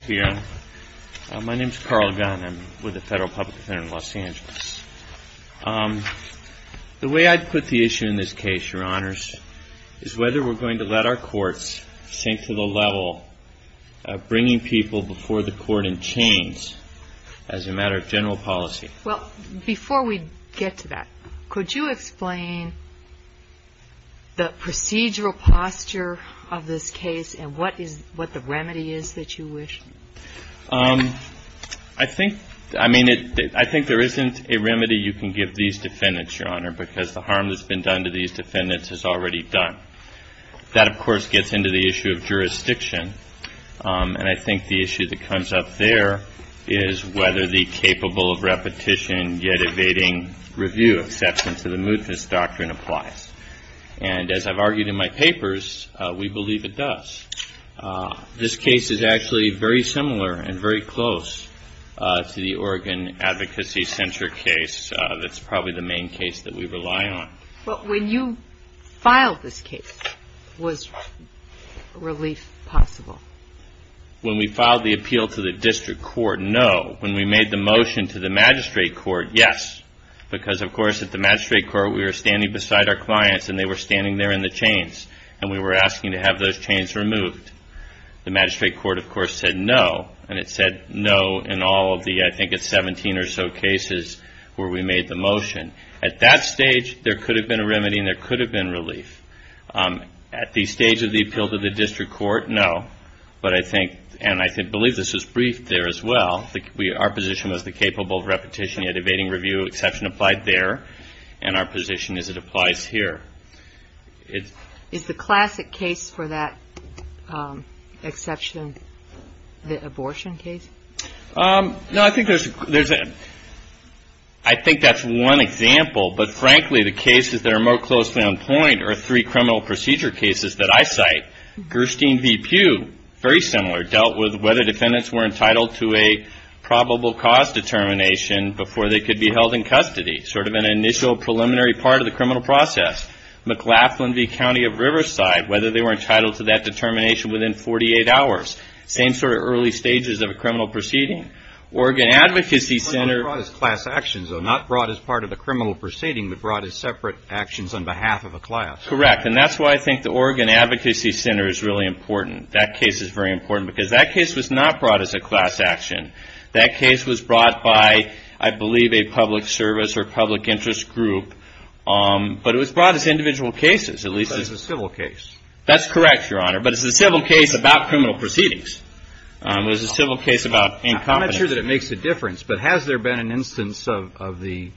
here. My name is Carl Gunn. I'm with the Federal Public Defender in Los Angeles. The way I'd put the issue in this case, your honors, is whether we're going to let our courts sink to the level of bringing people before the court in chains as a matter of general policy. Well, before we get to that, could you explain the procedural posture of this case and what is, what the remedy is that you wish? I think, I mean, I think there isn't a remedy you can give these defendants, your honor, because the harm that's been done to these defendants is already done. That, of course, gets into the issue of jurisdiction. And I think the issue that comes up there is whether the capable of repetition yet evading review acceptance of the mootness doctrine applies. And as I've argued in my papers, we believe it does. This case is actually very similar and very close to the Oregon Advocacy Center case. That's probably the main case that we rely on. But when you filed this case, was relief possible? When we filed the appeal to the district court, no. When we made the motion to the magistrate court, yes. Because, of course, at the magistrate court we were standing beside our clients and they were standing there in the chains. And we were asking to have those chains removed. The magistrate court, of course, said no. And it said no in all of the, I think it's seventeen or so cases where we made the motion. At that stage, there could have been a remedy and there could have been relief. At the stage of the appeal to the district court, no. But I think, and I believe this was briefed there as well, our position was the capable of repetition and evading review exception applied there. And our position is it applies here. Is the classic case for that exception the abortion case? No, I think there's, I think that's one example. But, frankly, the cases that are more closely on point are three criminal procedure cases that I cite. Gerstein v. Pugh, very similar, dealt with whether defendants were entitled to a probable cause determination before they could be held in custody. Sort of an initial preliminary part of the criminal process. McLaughlin v. County of Riverside, whether they were entitled to that determination within forty-eight hours. Same sort of early stages of a criminal proceeding. Oregon Advocacy Center... It's not brought as class actions, though. Not brought as part of a criminal proceeding, but brought as separate actions on behalf of a class. Correct. And that's why I think the Oregon Advocacy Center is really important. That case is very important because that case was not brought as a class action. That case was brought by, I believe, a public service or public interest group. But it was brought as individual cases, at least as a civil case. That's correct, Your Honor. But it's a civil case about criminal proceedings. It was a civil case about incompetence. I'm not sure that it makes a difference, but has there been an instance of the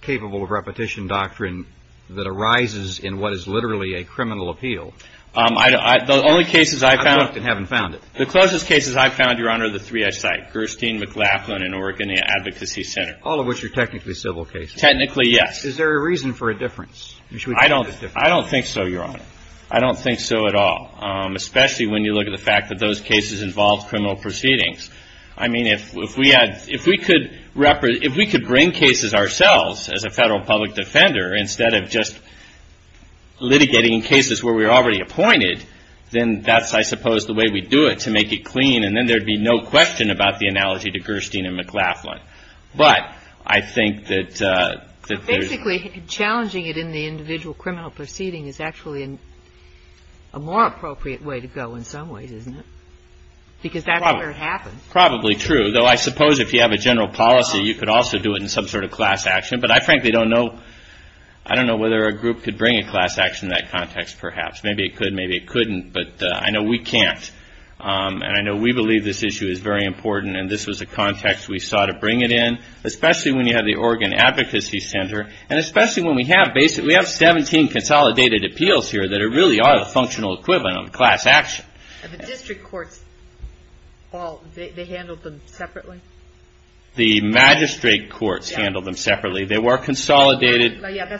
capable of repetition doctrine that arises in what is literally a criminal appeal? The only cases I found... I've looked and haven't found it. The closest cases I've found, Your Honor, are the three I cite, Gerstein, McLaughlin and Oregon Advocacy Center. All of which are technically civil cases. Technically, yes. Is there a reason for a difference? I don't think so, Your Honor. I don't think so at all, especially when you look at the fact that those cases involved criminal proceedings. I mean, if we had, if we could, if we could bring cases ourselves as a Federal public defender instead of just litigating cases where we were already appointed, then that's, I suppose, the way we'd do it, to make it clean, and then there'd be no question about the analogy to Gerstein and McLaughlin. But I think that... But basically, challenging it in the individual criminal proceeding is actually a more appropriate way to go in some ways, isn't it? Because that's where it happens. Probably true. Though I suppose if you have a general policy, you could also do it in some sort of class action. But I frankly don't know, I don't know whether a group could bring a class action in that context, perhaps. Maybe it could, maybe it couldn't, but I know we can't. And I know we believe this issue is very important, and this was a context we sought to bring it in, especially when you have the Oregon Advocacy Center, and especially when we have, basically, we have 17 consolidated appeals here that are really are a functional equivalent of class action. And the district courts all, they handled them separately? The magistrate courts handled them separately. They were consolidated... Before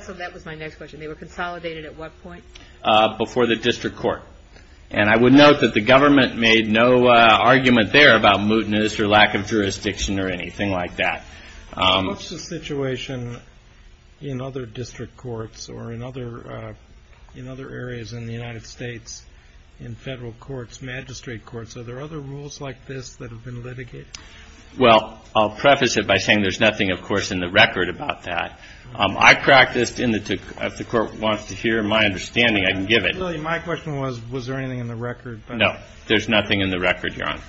the district court. And I would note that the government made no argument there about mootness or lack of jurisdiction or anything like that. What's the situation in other district courts or in other areas in the United States, in federal courts, magistrate courts? Are there other rules like this that have been litigated? Well, I'll preface it by saying there's nothing, of course, in the record about that. I practiced in the, if the court wants to hear my understanding, I can give it. My question was, was there anything in the record? No, there's nothing in the record, Your Honor,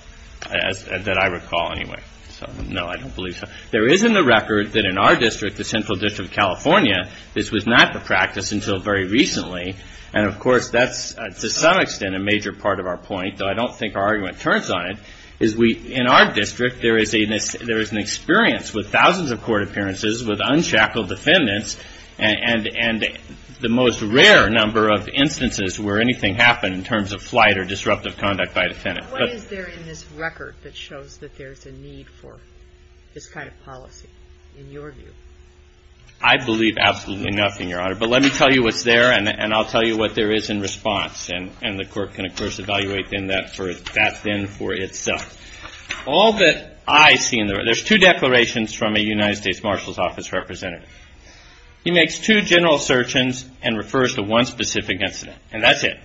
that I recall anyway. So, no, I don't believe so. There is in the record that in our district, the Central District of California, this was not the practice until very recently. And, of course, that's, to some extent, a major part of our point, though I don't think our argument turns on it, is we, in our district, there is a, there is an experience with thousands of court appearances with unshackled defendants, and the most rare number of instances where anything happened in terms of flight or disruptive conduct by a defendant. What is there in this record that shows that there's a need for this kind of policy, in your view? I believe absolutely nothing, Your Honor. But let me tell you what's there, and I'll tell you what there is in response. And the court can, of course, evaluate then that for, that then for itself. All that I see in there, there's two declarations from a United States Marshal's Office representative. He makes two general assertions and refers to one specific incident, and that's it.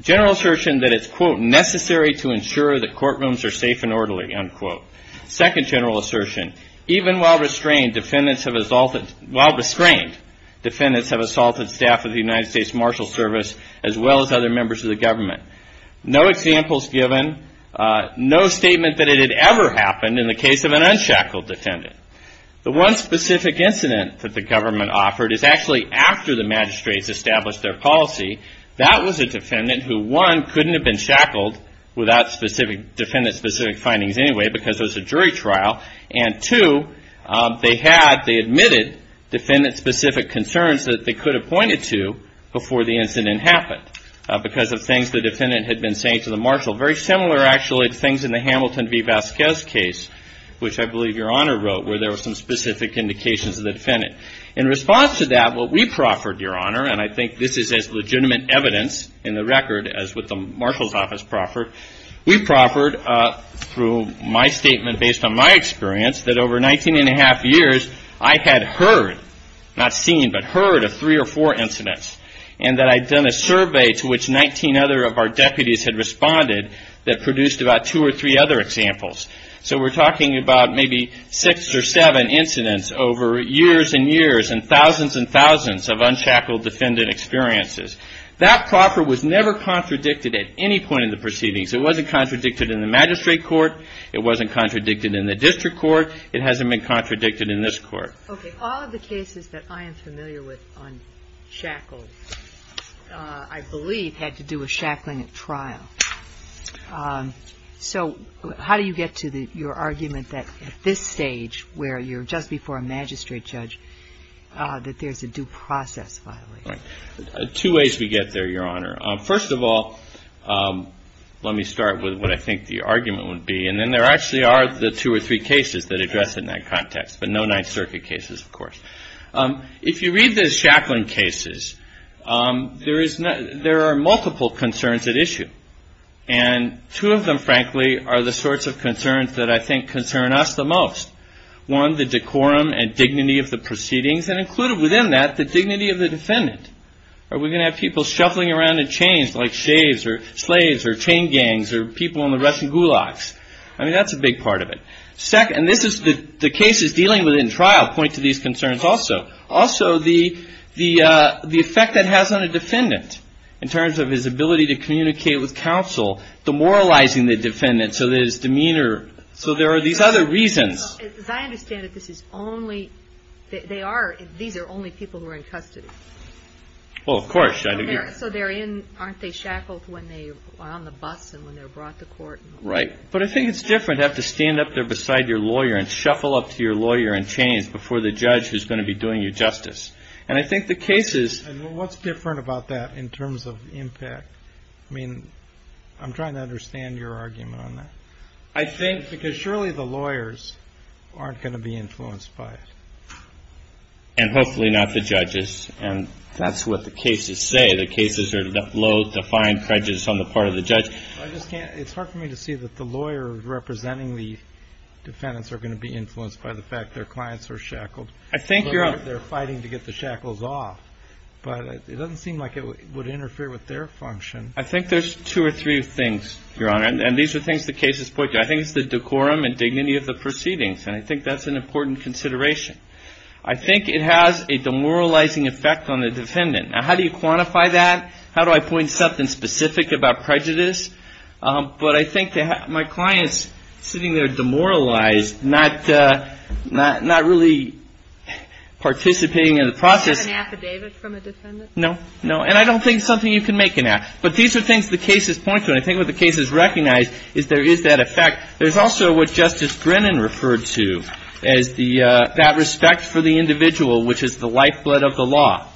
General assertion that it's, quote, necessary to ensure that courtrooms are safe and orderly, unquote. Second general assertion, even while restrained, defendants have assaulted, while restrained, defendants have assaulted staff of the United States Marshal's Service as well as other members of the government. No examples given, no statement that it had ever happened in the case of an unshackled defendant. The one specific incident that the government offered is actually after the magistrates established their policy. That was a defendant who, one, couldn't have been shackled without specific, defendant-specific findings anyway because it was a jury trial. And two, they had, they admitted defendant-specific concerns that they could have pointed to before the incident happened because of things the defendant had been saying to the marshal. Very similar, actually, to things in the Hamilton v. Vasquez case, which I believe Your Honor wrote, where there were some specific indications of the defendant. In response to that, what we proffered, Your Honor, and I think this is as legitimate evidence in the record as what the Marshal's Office proffered, we proffered through my statement, based on my experience, that over 19 and a half years, I had heard, not seen, but heard of three or four incidents. And that I'd done a survey to which 19 other of our deputies had responded that produced about two or three other examples. So we're talking about maybe six or seven incidents over years and years and thousands and thousands of unshackled defendant experiences. That proffer was never contradicted at any point in the proceedings. It wasn't contradicted in the magistrate court. It wasn't contradicted in the district court. It hasn't been contradicted in this court. Okay. All of the cases that I am familiar with on shackles, I believe, had to do with shackling at trial. So how do you get to your argument that at this stage, where you're just before a magistrate judge, that there's a due process violation? Two ways we get there, Your Honor. First of all, let me start with what I think the argument would be. And then there actually are the two or three cases that address it in that context. But no Ninth Circuit cases, of course. If you read the shackling cases, there are multiple concerns at issue. And two of them, frankly, are the sorts of concerns that I think concern us the most. One, the decorum and dignity of the proceedings. And included within that, the dignity of the defendant. Are we going to have people shuffling around in chains like shaves or slaves or chain gangs or people in the Russian gulags? I mean, that's a big part of it. Second, and this is the cases dealing with in trial point to these concerns also. Also, the effect that has on a defendant in terms of his ability to communicate with counsel, demoralizing the defendant so that his demeanor, so there are these other reasons. As I understand it, this is only, they are, these are only people who are in custody. Well, of course. So they're in, aren't they shackled when they are on the bus and when they're brought to court? Right. But I think it's different to have to stand up there beside your lawyer and shuffle up to your lawyer in chains before the judge who's going to be doing you justice. And I think the cases. And what's different about that in terms of impact? I mean, I'm trying to understand your argument on that. I think because surely the lawyers aren't going to be influenced by it. And hopefully not the judges. And that's what the cases say. The cases are loath to find prejudice on the part of the judge. I just can't, it's hard for me to see that the lawyer representing the defendants are going to be influenced by the fact their clients are shackled. I think you're on. They're fighting to get the shackles off. But it doesn't seem like it would interfere with their function. I think there's two or three things, Your Honor, and these are things the cases point to. I think it's the decorum and dignity of the proceedings. And I think that's an important consideration. I think it has a demoralizing effect on the defendant. Now, how do you quantify that? How do I point something specific about prejudice? But I think my client's sitting there demoralized, not really participating in the process. Is that an affidavit from a defendant? No. No. And I don't think it's something you can make an affidavit. But these are things the cases point to. And I think what the cases recognize is there is that effect. There's also what Justice Brennan referred to as that respect for the individual, which is the lifeblood of the law.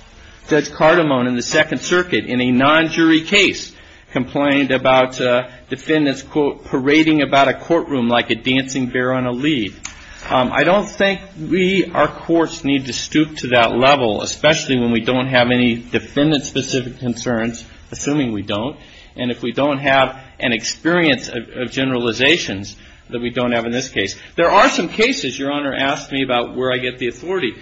Judge Cardamone in the Second Circuit in a non-jury case complained about defendants, quote, parading about a courtroom like a dancing bear on a lead. I don't think we, our courts, need to stoop to that level, especially when we don't have any defendant-specific concerns, assuming we don't, and if we don't have an experience of generalizations that we don't have in this case. There are some cases, Your Honor asked me about, where I get the authority.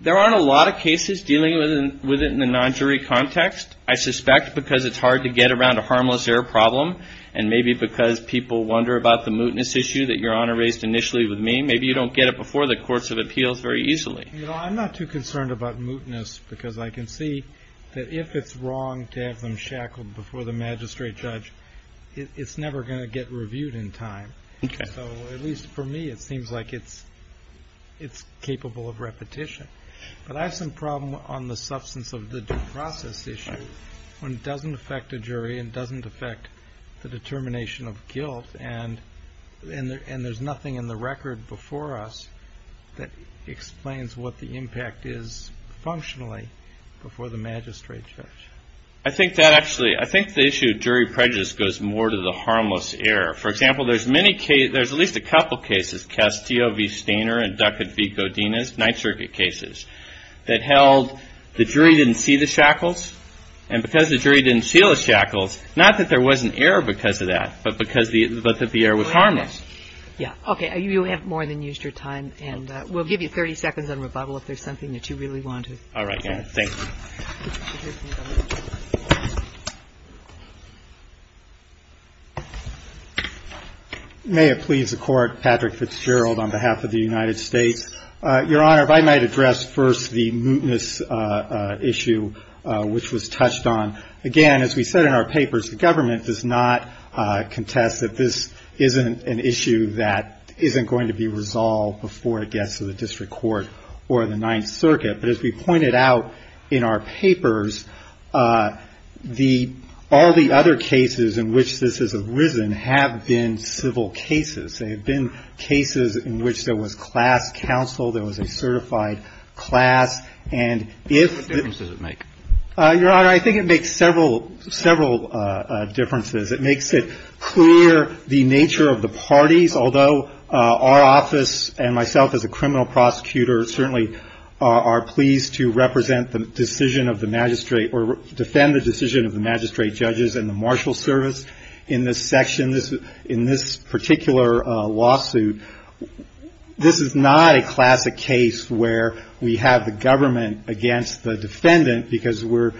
There aren't a lot of cases dealing with it in the non-jury context, I suspect because it's hard to get around a harmless error problem, and maybe because people wonder about the mootness issue that Your Honor raised initially with me. Maybe you don't get it before the courts of appeals very easily. You know, I'm not too concerned about mootness because I can see that if it's wrong to have them shackled before the magistrate judge, it's never going to get reviewed in time. So at least for me, it seems like it's capable of repetition. But I have some problem on the substance of the due process issue when it doesn't affect a jury and doesn't affect the determination of guilt, and there's nothing in the record before us that explains what the impact is functionally before the magistrate judge. I think that actually, I think the issue of jury prejudice goes more to the harmless error. For example, there's many cases, there's at least a couple cases, Castillo v. Stainer and Duckett v. Godinez, Ninth Circuit cases, that held the jury didn't see the shackles, and because the jury didn't see the shackles, not that there wasn't error because of that, but because the error was harmless. Yeah. Okay. You have more than used your time, and we'll give you 30 seconds on rebuttal if there's something that you really want to. All right, Your Honor. Thank you. May it please the Court, Patrick Fitzgerald on behalf of the United States. Your Honor, if I might address first the mootness issue which was touched on. Again, as we said in our papers, the government does not contest that this isn't an issue that isn't going to be resolved before it gets to the district court or the Ninth Circuit. But as we pointed out in our papers, all the other cases in which this has arisen have been civil cases. They have been cases in which there was class counsel, there was a certified class, and if- What difference does it make? Your Honor, I think it makes several differences. It makes it clear the nature of the parties, although our office and myself as a criminal prosecutor certainly are pleased to represent the decision of the magistrate or defend the decision of the magistrate judges and the marshal service in this section, in this particular lawsuit, this is not a classic case where we have the government against the defendant because we're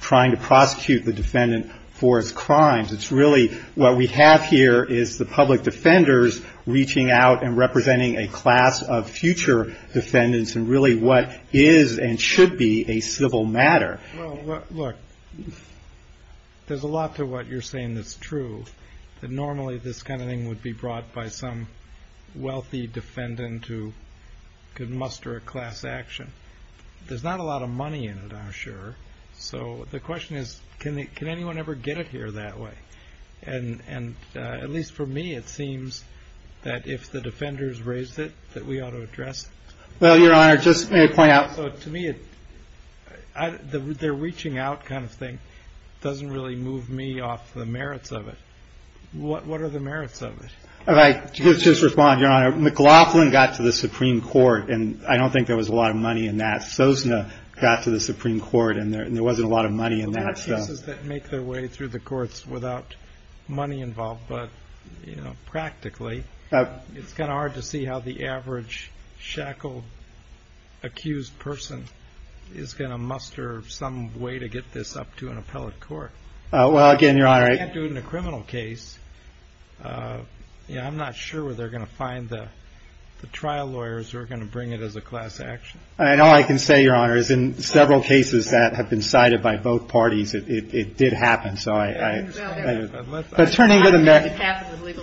trying to prosecute the defendant for his crimes. It's really what we have here is the public defenders reaching out and representing a class of future defendants and really what is and should be a civil matter. Well, look, there's a lot to what you're saying that's true, that normally this kind of thing would be brought by some wealthy defendant who could muster a class action. There's not a lot of money in it, I'm sure. So the question is, can anyone ever get it here that way? And at least for me, it seems that if the defenders raise it, that we ought to address it. Well, Your Honor, just to point out- So to me, the reaching out kind of thing doesn't really move me off the merits of it. What are the merits of it? All right, just respond, Your Honor. McLaughlin got to the Supreme Court, and I don't think there was a lot of money in that. Sosna got to the Supreme Court, and there wasn't a lot of money in that. Well, there are cases that make their way through the courts without money involved. But, you know, practically, it's kind of hard to see how the average shackled accused person is going to muster some way to get this up to an appellate court. Well, again, Your Honor- You can't do it in a criminal case. Yeah, I'm not sure where they're going to find the trial lawyers who are going to bring it as a class action. And all I can say, Your Honor, is in several cases that have been cited by both parties, it did happen. So I- Well, let's- But turning to the merits-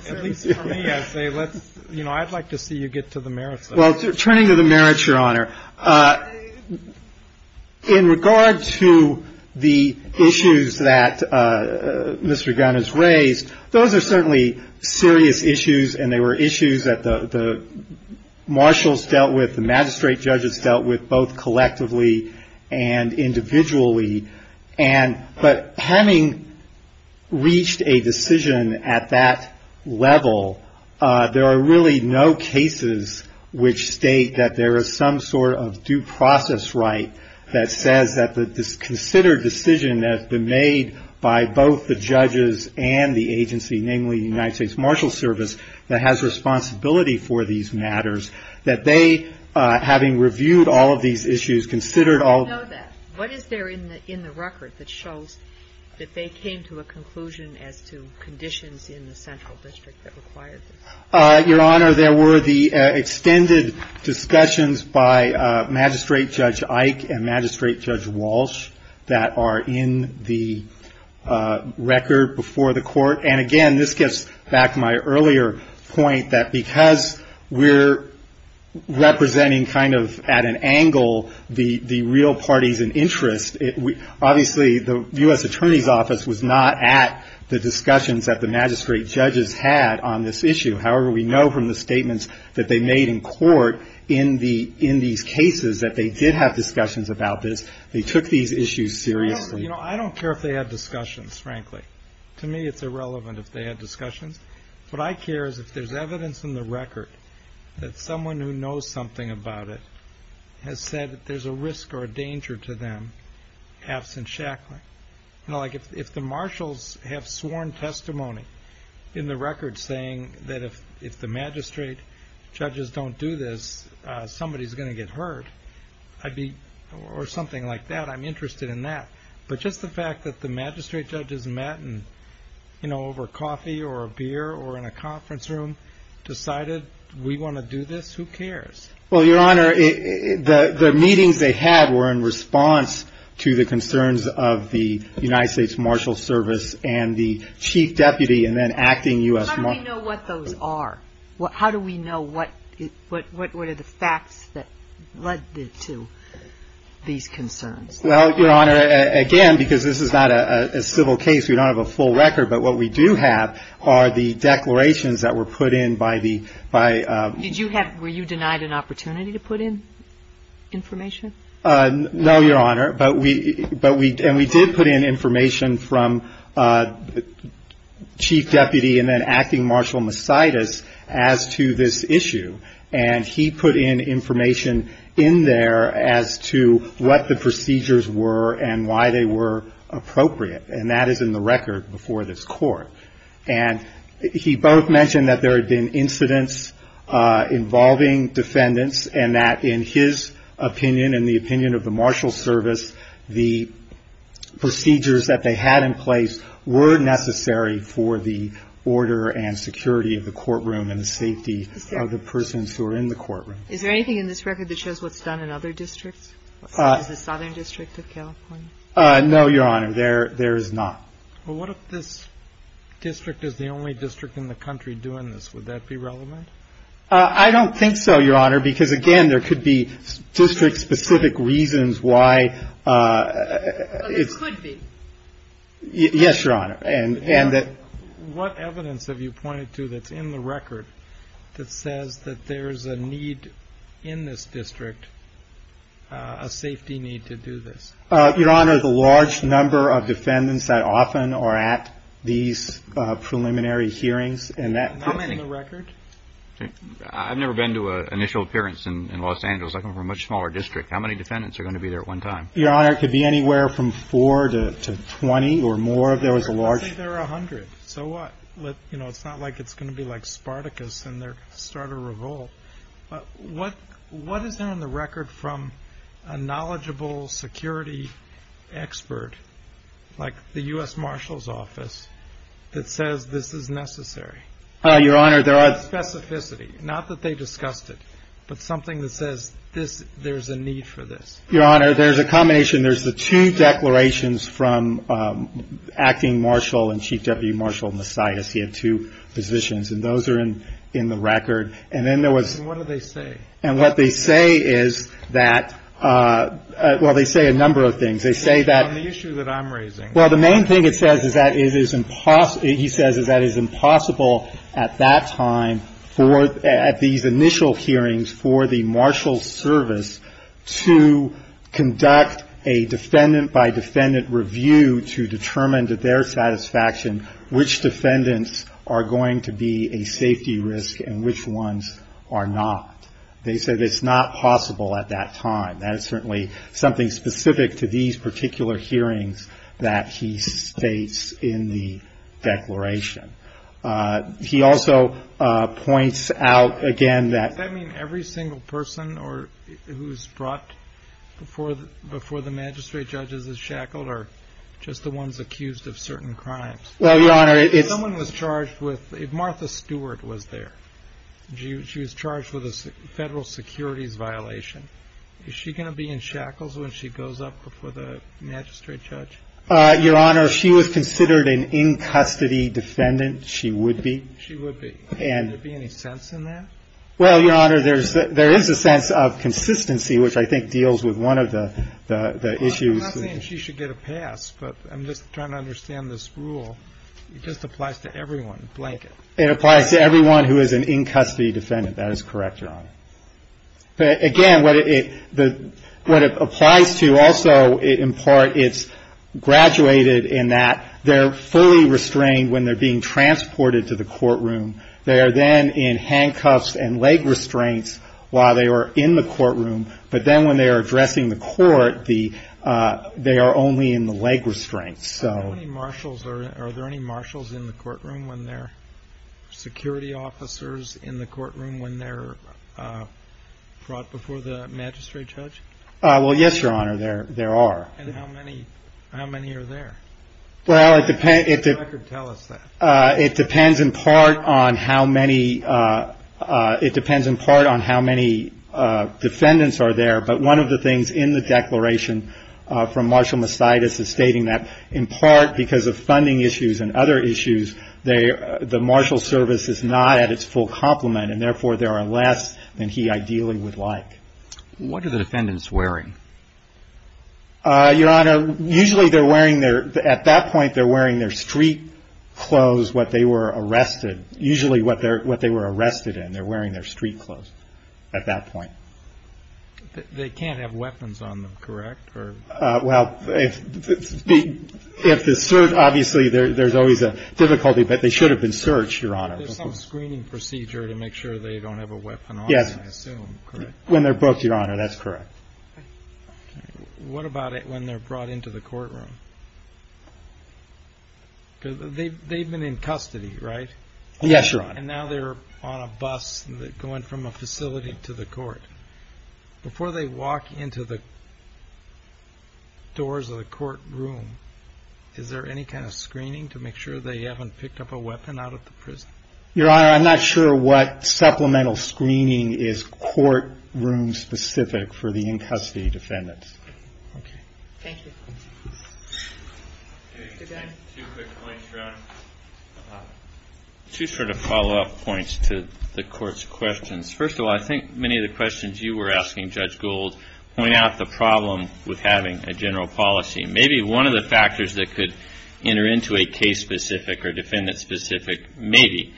At least for me, I'd say, let's, you know, I'd like to see you get to the merits of it. Well, turning to the merits, Your Honor, in regard to the issues that Mr. Gunn has raised, those are certainly serious issues, and they were issues that the marshals dealt with, the magistrate judges dealt with, both collectively and individually. And- but having reached a decision at that level, there are really no cases which state that there is some sort of due process right that says that this considered decision that has been made by both the judges and the agency, namely the United States Marshal Service, that has responsibility for these matters, that they, having reviewed all of these issues, considered all- I know that. What is there in the record that shows that they came to a conclusion as to conditions in the central district that required this? Your Honor, there were the extended discussions by Magistrate Judge Ike and Magistrate Judge Walsh that are in the record before the Court. And again, this gets back to my earlier point, that because we're representing, kind of, at an angle, the real parties in interest, obviously, the U.S. Attorney's Office was not at the discussions that the magistrate judges had on this issue. However, we know from the statements that they made in court in the- in these cases that they did have discussions about this. They took these issues seriously. You know, I don't care if they had discussions, frankly. To me, it's irrelevant if they had discussions. What I care is if there's evidence in the record that someone who knows something about it has said that there's a risk or a danger to them, absent shackling. You know, like if the marshals have sworn testimony in the record saying that if the magistrate judges don't do this, somebody's going to get hurt. I'd be- or something like that. I'm interested in that. But just the fact that the magistrate judges met and, you know, over coffee or a beer or in a conference room, decided we want to do this, who cares? Well, Your Honor, the meetings they had were in response to the concerns of the United States Marshal Service and the chief deputy and then acting U.S. How do we know what those are? How do we know what- what are the facts that led to these concerns? Well, Your Honor, again, because this is not a civil case, we don't have a full record. But what we do have are the declarations that were put in by the- by- Did you have- were you denied an opportunity to put in information? No, Your Honor. But we- but we- and we did put in information from chief deputy and then acting Marshal Mositis as to this issue. And he put in information in there as to what the procedures were and why they were appropriate. And that is in the record before this court. And he both mentioned that there had been incidents involving defendants and that in his opinion and the opinion of the Marshal Service, the procedures that they had in place were necessary for the order and security of the courtroom and the safety of the persons who are in the courtroom. Is there anything in this record that shows what's done in other districts? Is it Southern District of California? No, Your Honor. There- there is not. Well, what if this district is the only district in the country doing this? Would that be relevant? I don't think so, Your Honor, because again, there could be district-specific reasons why it's- It could be. Yes, Your Honor. And- and that- What evidence have you pointed to that's in the record that says that there's a need in this district, a safety need to do this? Your Honor, the large number of defendants that often are at these preliminary hearings and that- How many? In the record? I've never been to an initial appearance in Los Angeles. I come from a much smaller district. How many defendants are going to be there at one time? Your Honor, it could be anywhere from four to twenty or more. There was a large- I think there are a hundred. So what? Let- you know, it's not like it's going to be like Spartacus and their start of revolt. But what- what is there in the record from a knowledgeable security expert like the U.S. Marshal's Office that says this is necessary? Your Honor, there are- Specificity. Not that they discussed it, but something that says this- there's a need for this. Your Honor, there's a combination. There's the two declarations from Acting Marshal and Chief Deputy Marshal Masias. He had two positions. And those are in- in the record. And then there was- And what do they say? And what they say is that- well, they say a number of things. They say that- On the issue that I'm raising. Well, the main thing it says is that it is impossible- he says that it is impossible at that time for- at these initial hearings for the Marshal's Service to conduct a defendant-by-defendant review to determine to their satisfaction which defendants are going to be a safety risk and which ones are not. They said it's not possible at that time. That is certainly something specific to these particular hearings that he states in the declaration. He also points out again that- Does that mean every single person or- who's brought before the magistrate judges is shackled or just the ones accused of certain crimes? Well, Your Honor, it's- Someone was charged with- Martha Stewart was there. She was charged with a federal securities violation. Is she going to be in shackles when she goes up before the magistrate judge? Your Honor, if she was considered an in-custody defendant, she would be. She would be. And- Would there be any sense in that? Well, Your Honor, there is a sense of consistency which I think deals with one of the issues- I'm not saying she should get a pass, but I'm just trying to understand this rule. It just applies to everyone, blanket. It applies to everyone who is an in-custody defendant. That is correct, Your Honor. Again, what it applies to also, in part, it's graduated in that they're fully restrained when they're being transported to the courtroom. They are then in handcuffs and leg restraints while they are in the courtroom. But then when they are addressing the court, they are only in the leg restraints, so- Are there any marshals in the courtroom when they're- security officers in the courtroom when they're- brought before the magistrate judge? Well, yes, Your Honor, there are. And how many are there? Well, it depends- If you could tell us that. It depends in part on how many defendants are there, but one of the things in the declaration from Marshal Mastitis is stating that, in part because of funding issues and other issues, the marshal service is not at its full complement, and therefore there are less than he ideally would like. What are the defendants wearing? Your Honor, usually they're wearing their- at that point, they're wearing their street clothes, what they were arrested- usually what they were arrested in, they're wearing their street clothes at that point. They can't have weapons on them, correct? Well, if the search- obviously, there's always a difficulty, but they should have been searched, Your Honor. There's some screening procedure to make sure they don't have a weapon on them, I assume, correct? When they're booked, Your Honor, that's correct. What about it when they're brought into the courtroom? Because they've been in custody, right? Yes, Your Honor. And now they're on a bus going from a facility to the court. Before they walk into the doors of the courtroom, is there any kind of screening to make sure they haven't picked up a weapon out of the prison? Your Honor, I'm not sure what supplemental screening is courtroom-specific for the in-custody defendants. Okay. Thank you. Two quick points, Your Honor. Two sort of follow-up points to the Court's questions. First of all, I think many of the questions you were asking, Judge Gould, point out the problem with having a general policy. Maybe one of the factors that could enter into a case-specific or defendant-specific, maybe,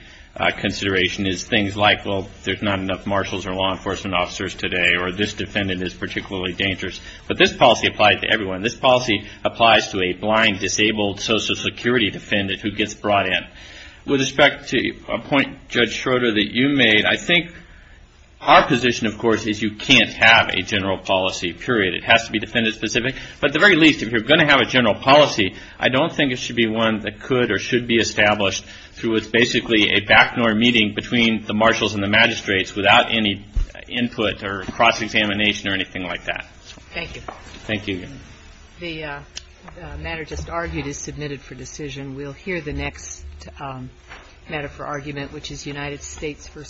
consideration is things like, well, there's not enough marshals or law enforcement officers today, or this defendant is particularly dangerous. But this policy applies to everyone. This policy applies to a blind, disabled Social Security defendant who gets brought in. With respect to a point, Judge Schroeder, that you made, I think our position, of course, is you can't have a general policy, period. It has to be defendant-specific. But at the very least, if you're going to have a general policy, I don't think it should be one that could or should be established through basically a back-door meeting between the marshals and the magistrates without any input or cross-examination or anything like that. Thank you. Thank you. The matter just argued is submitted for decision. We'll hear the next matter for argument, which is United States v. Howard.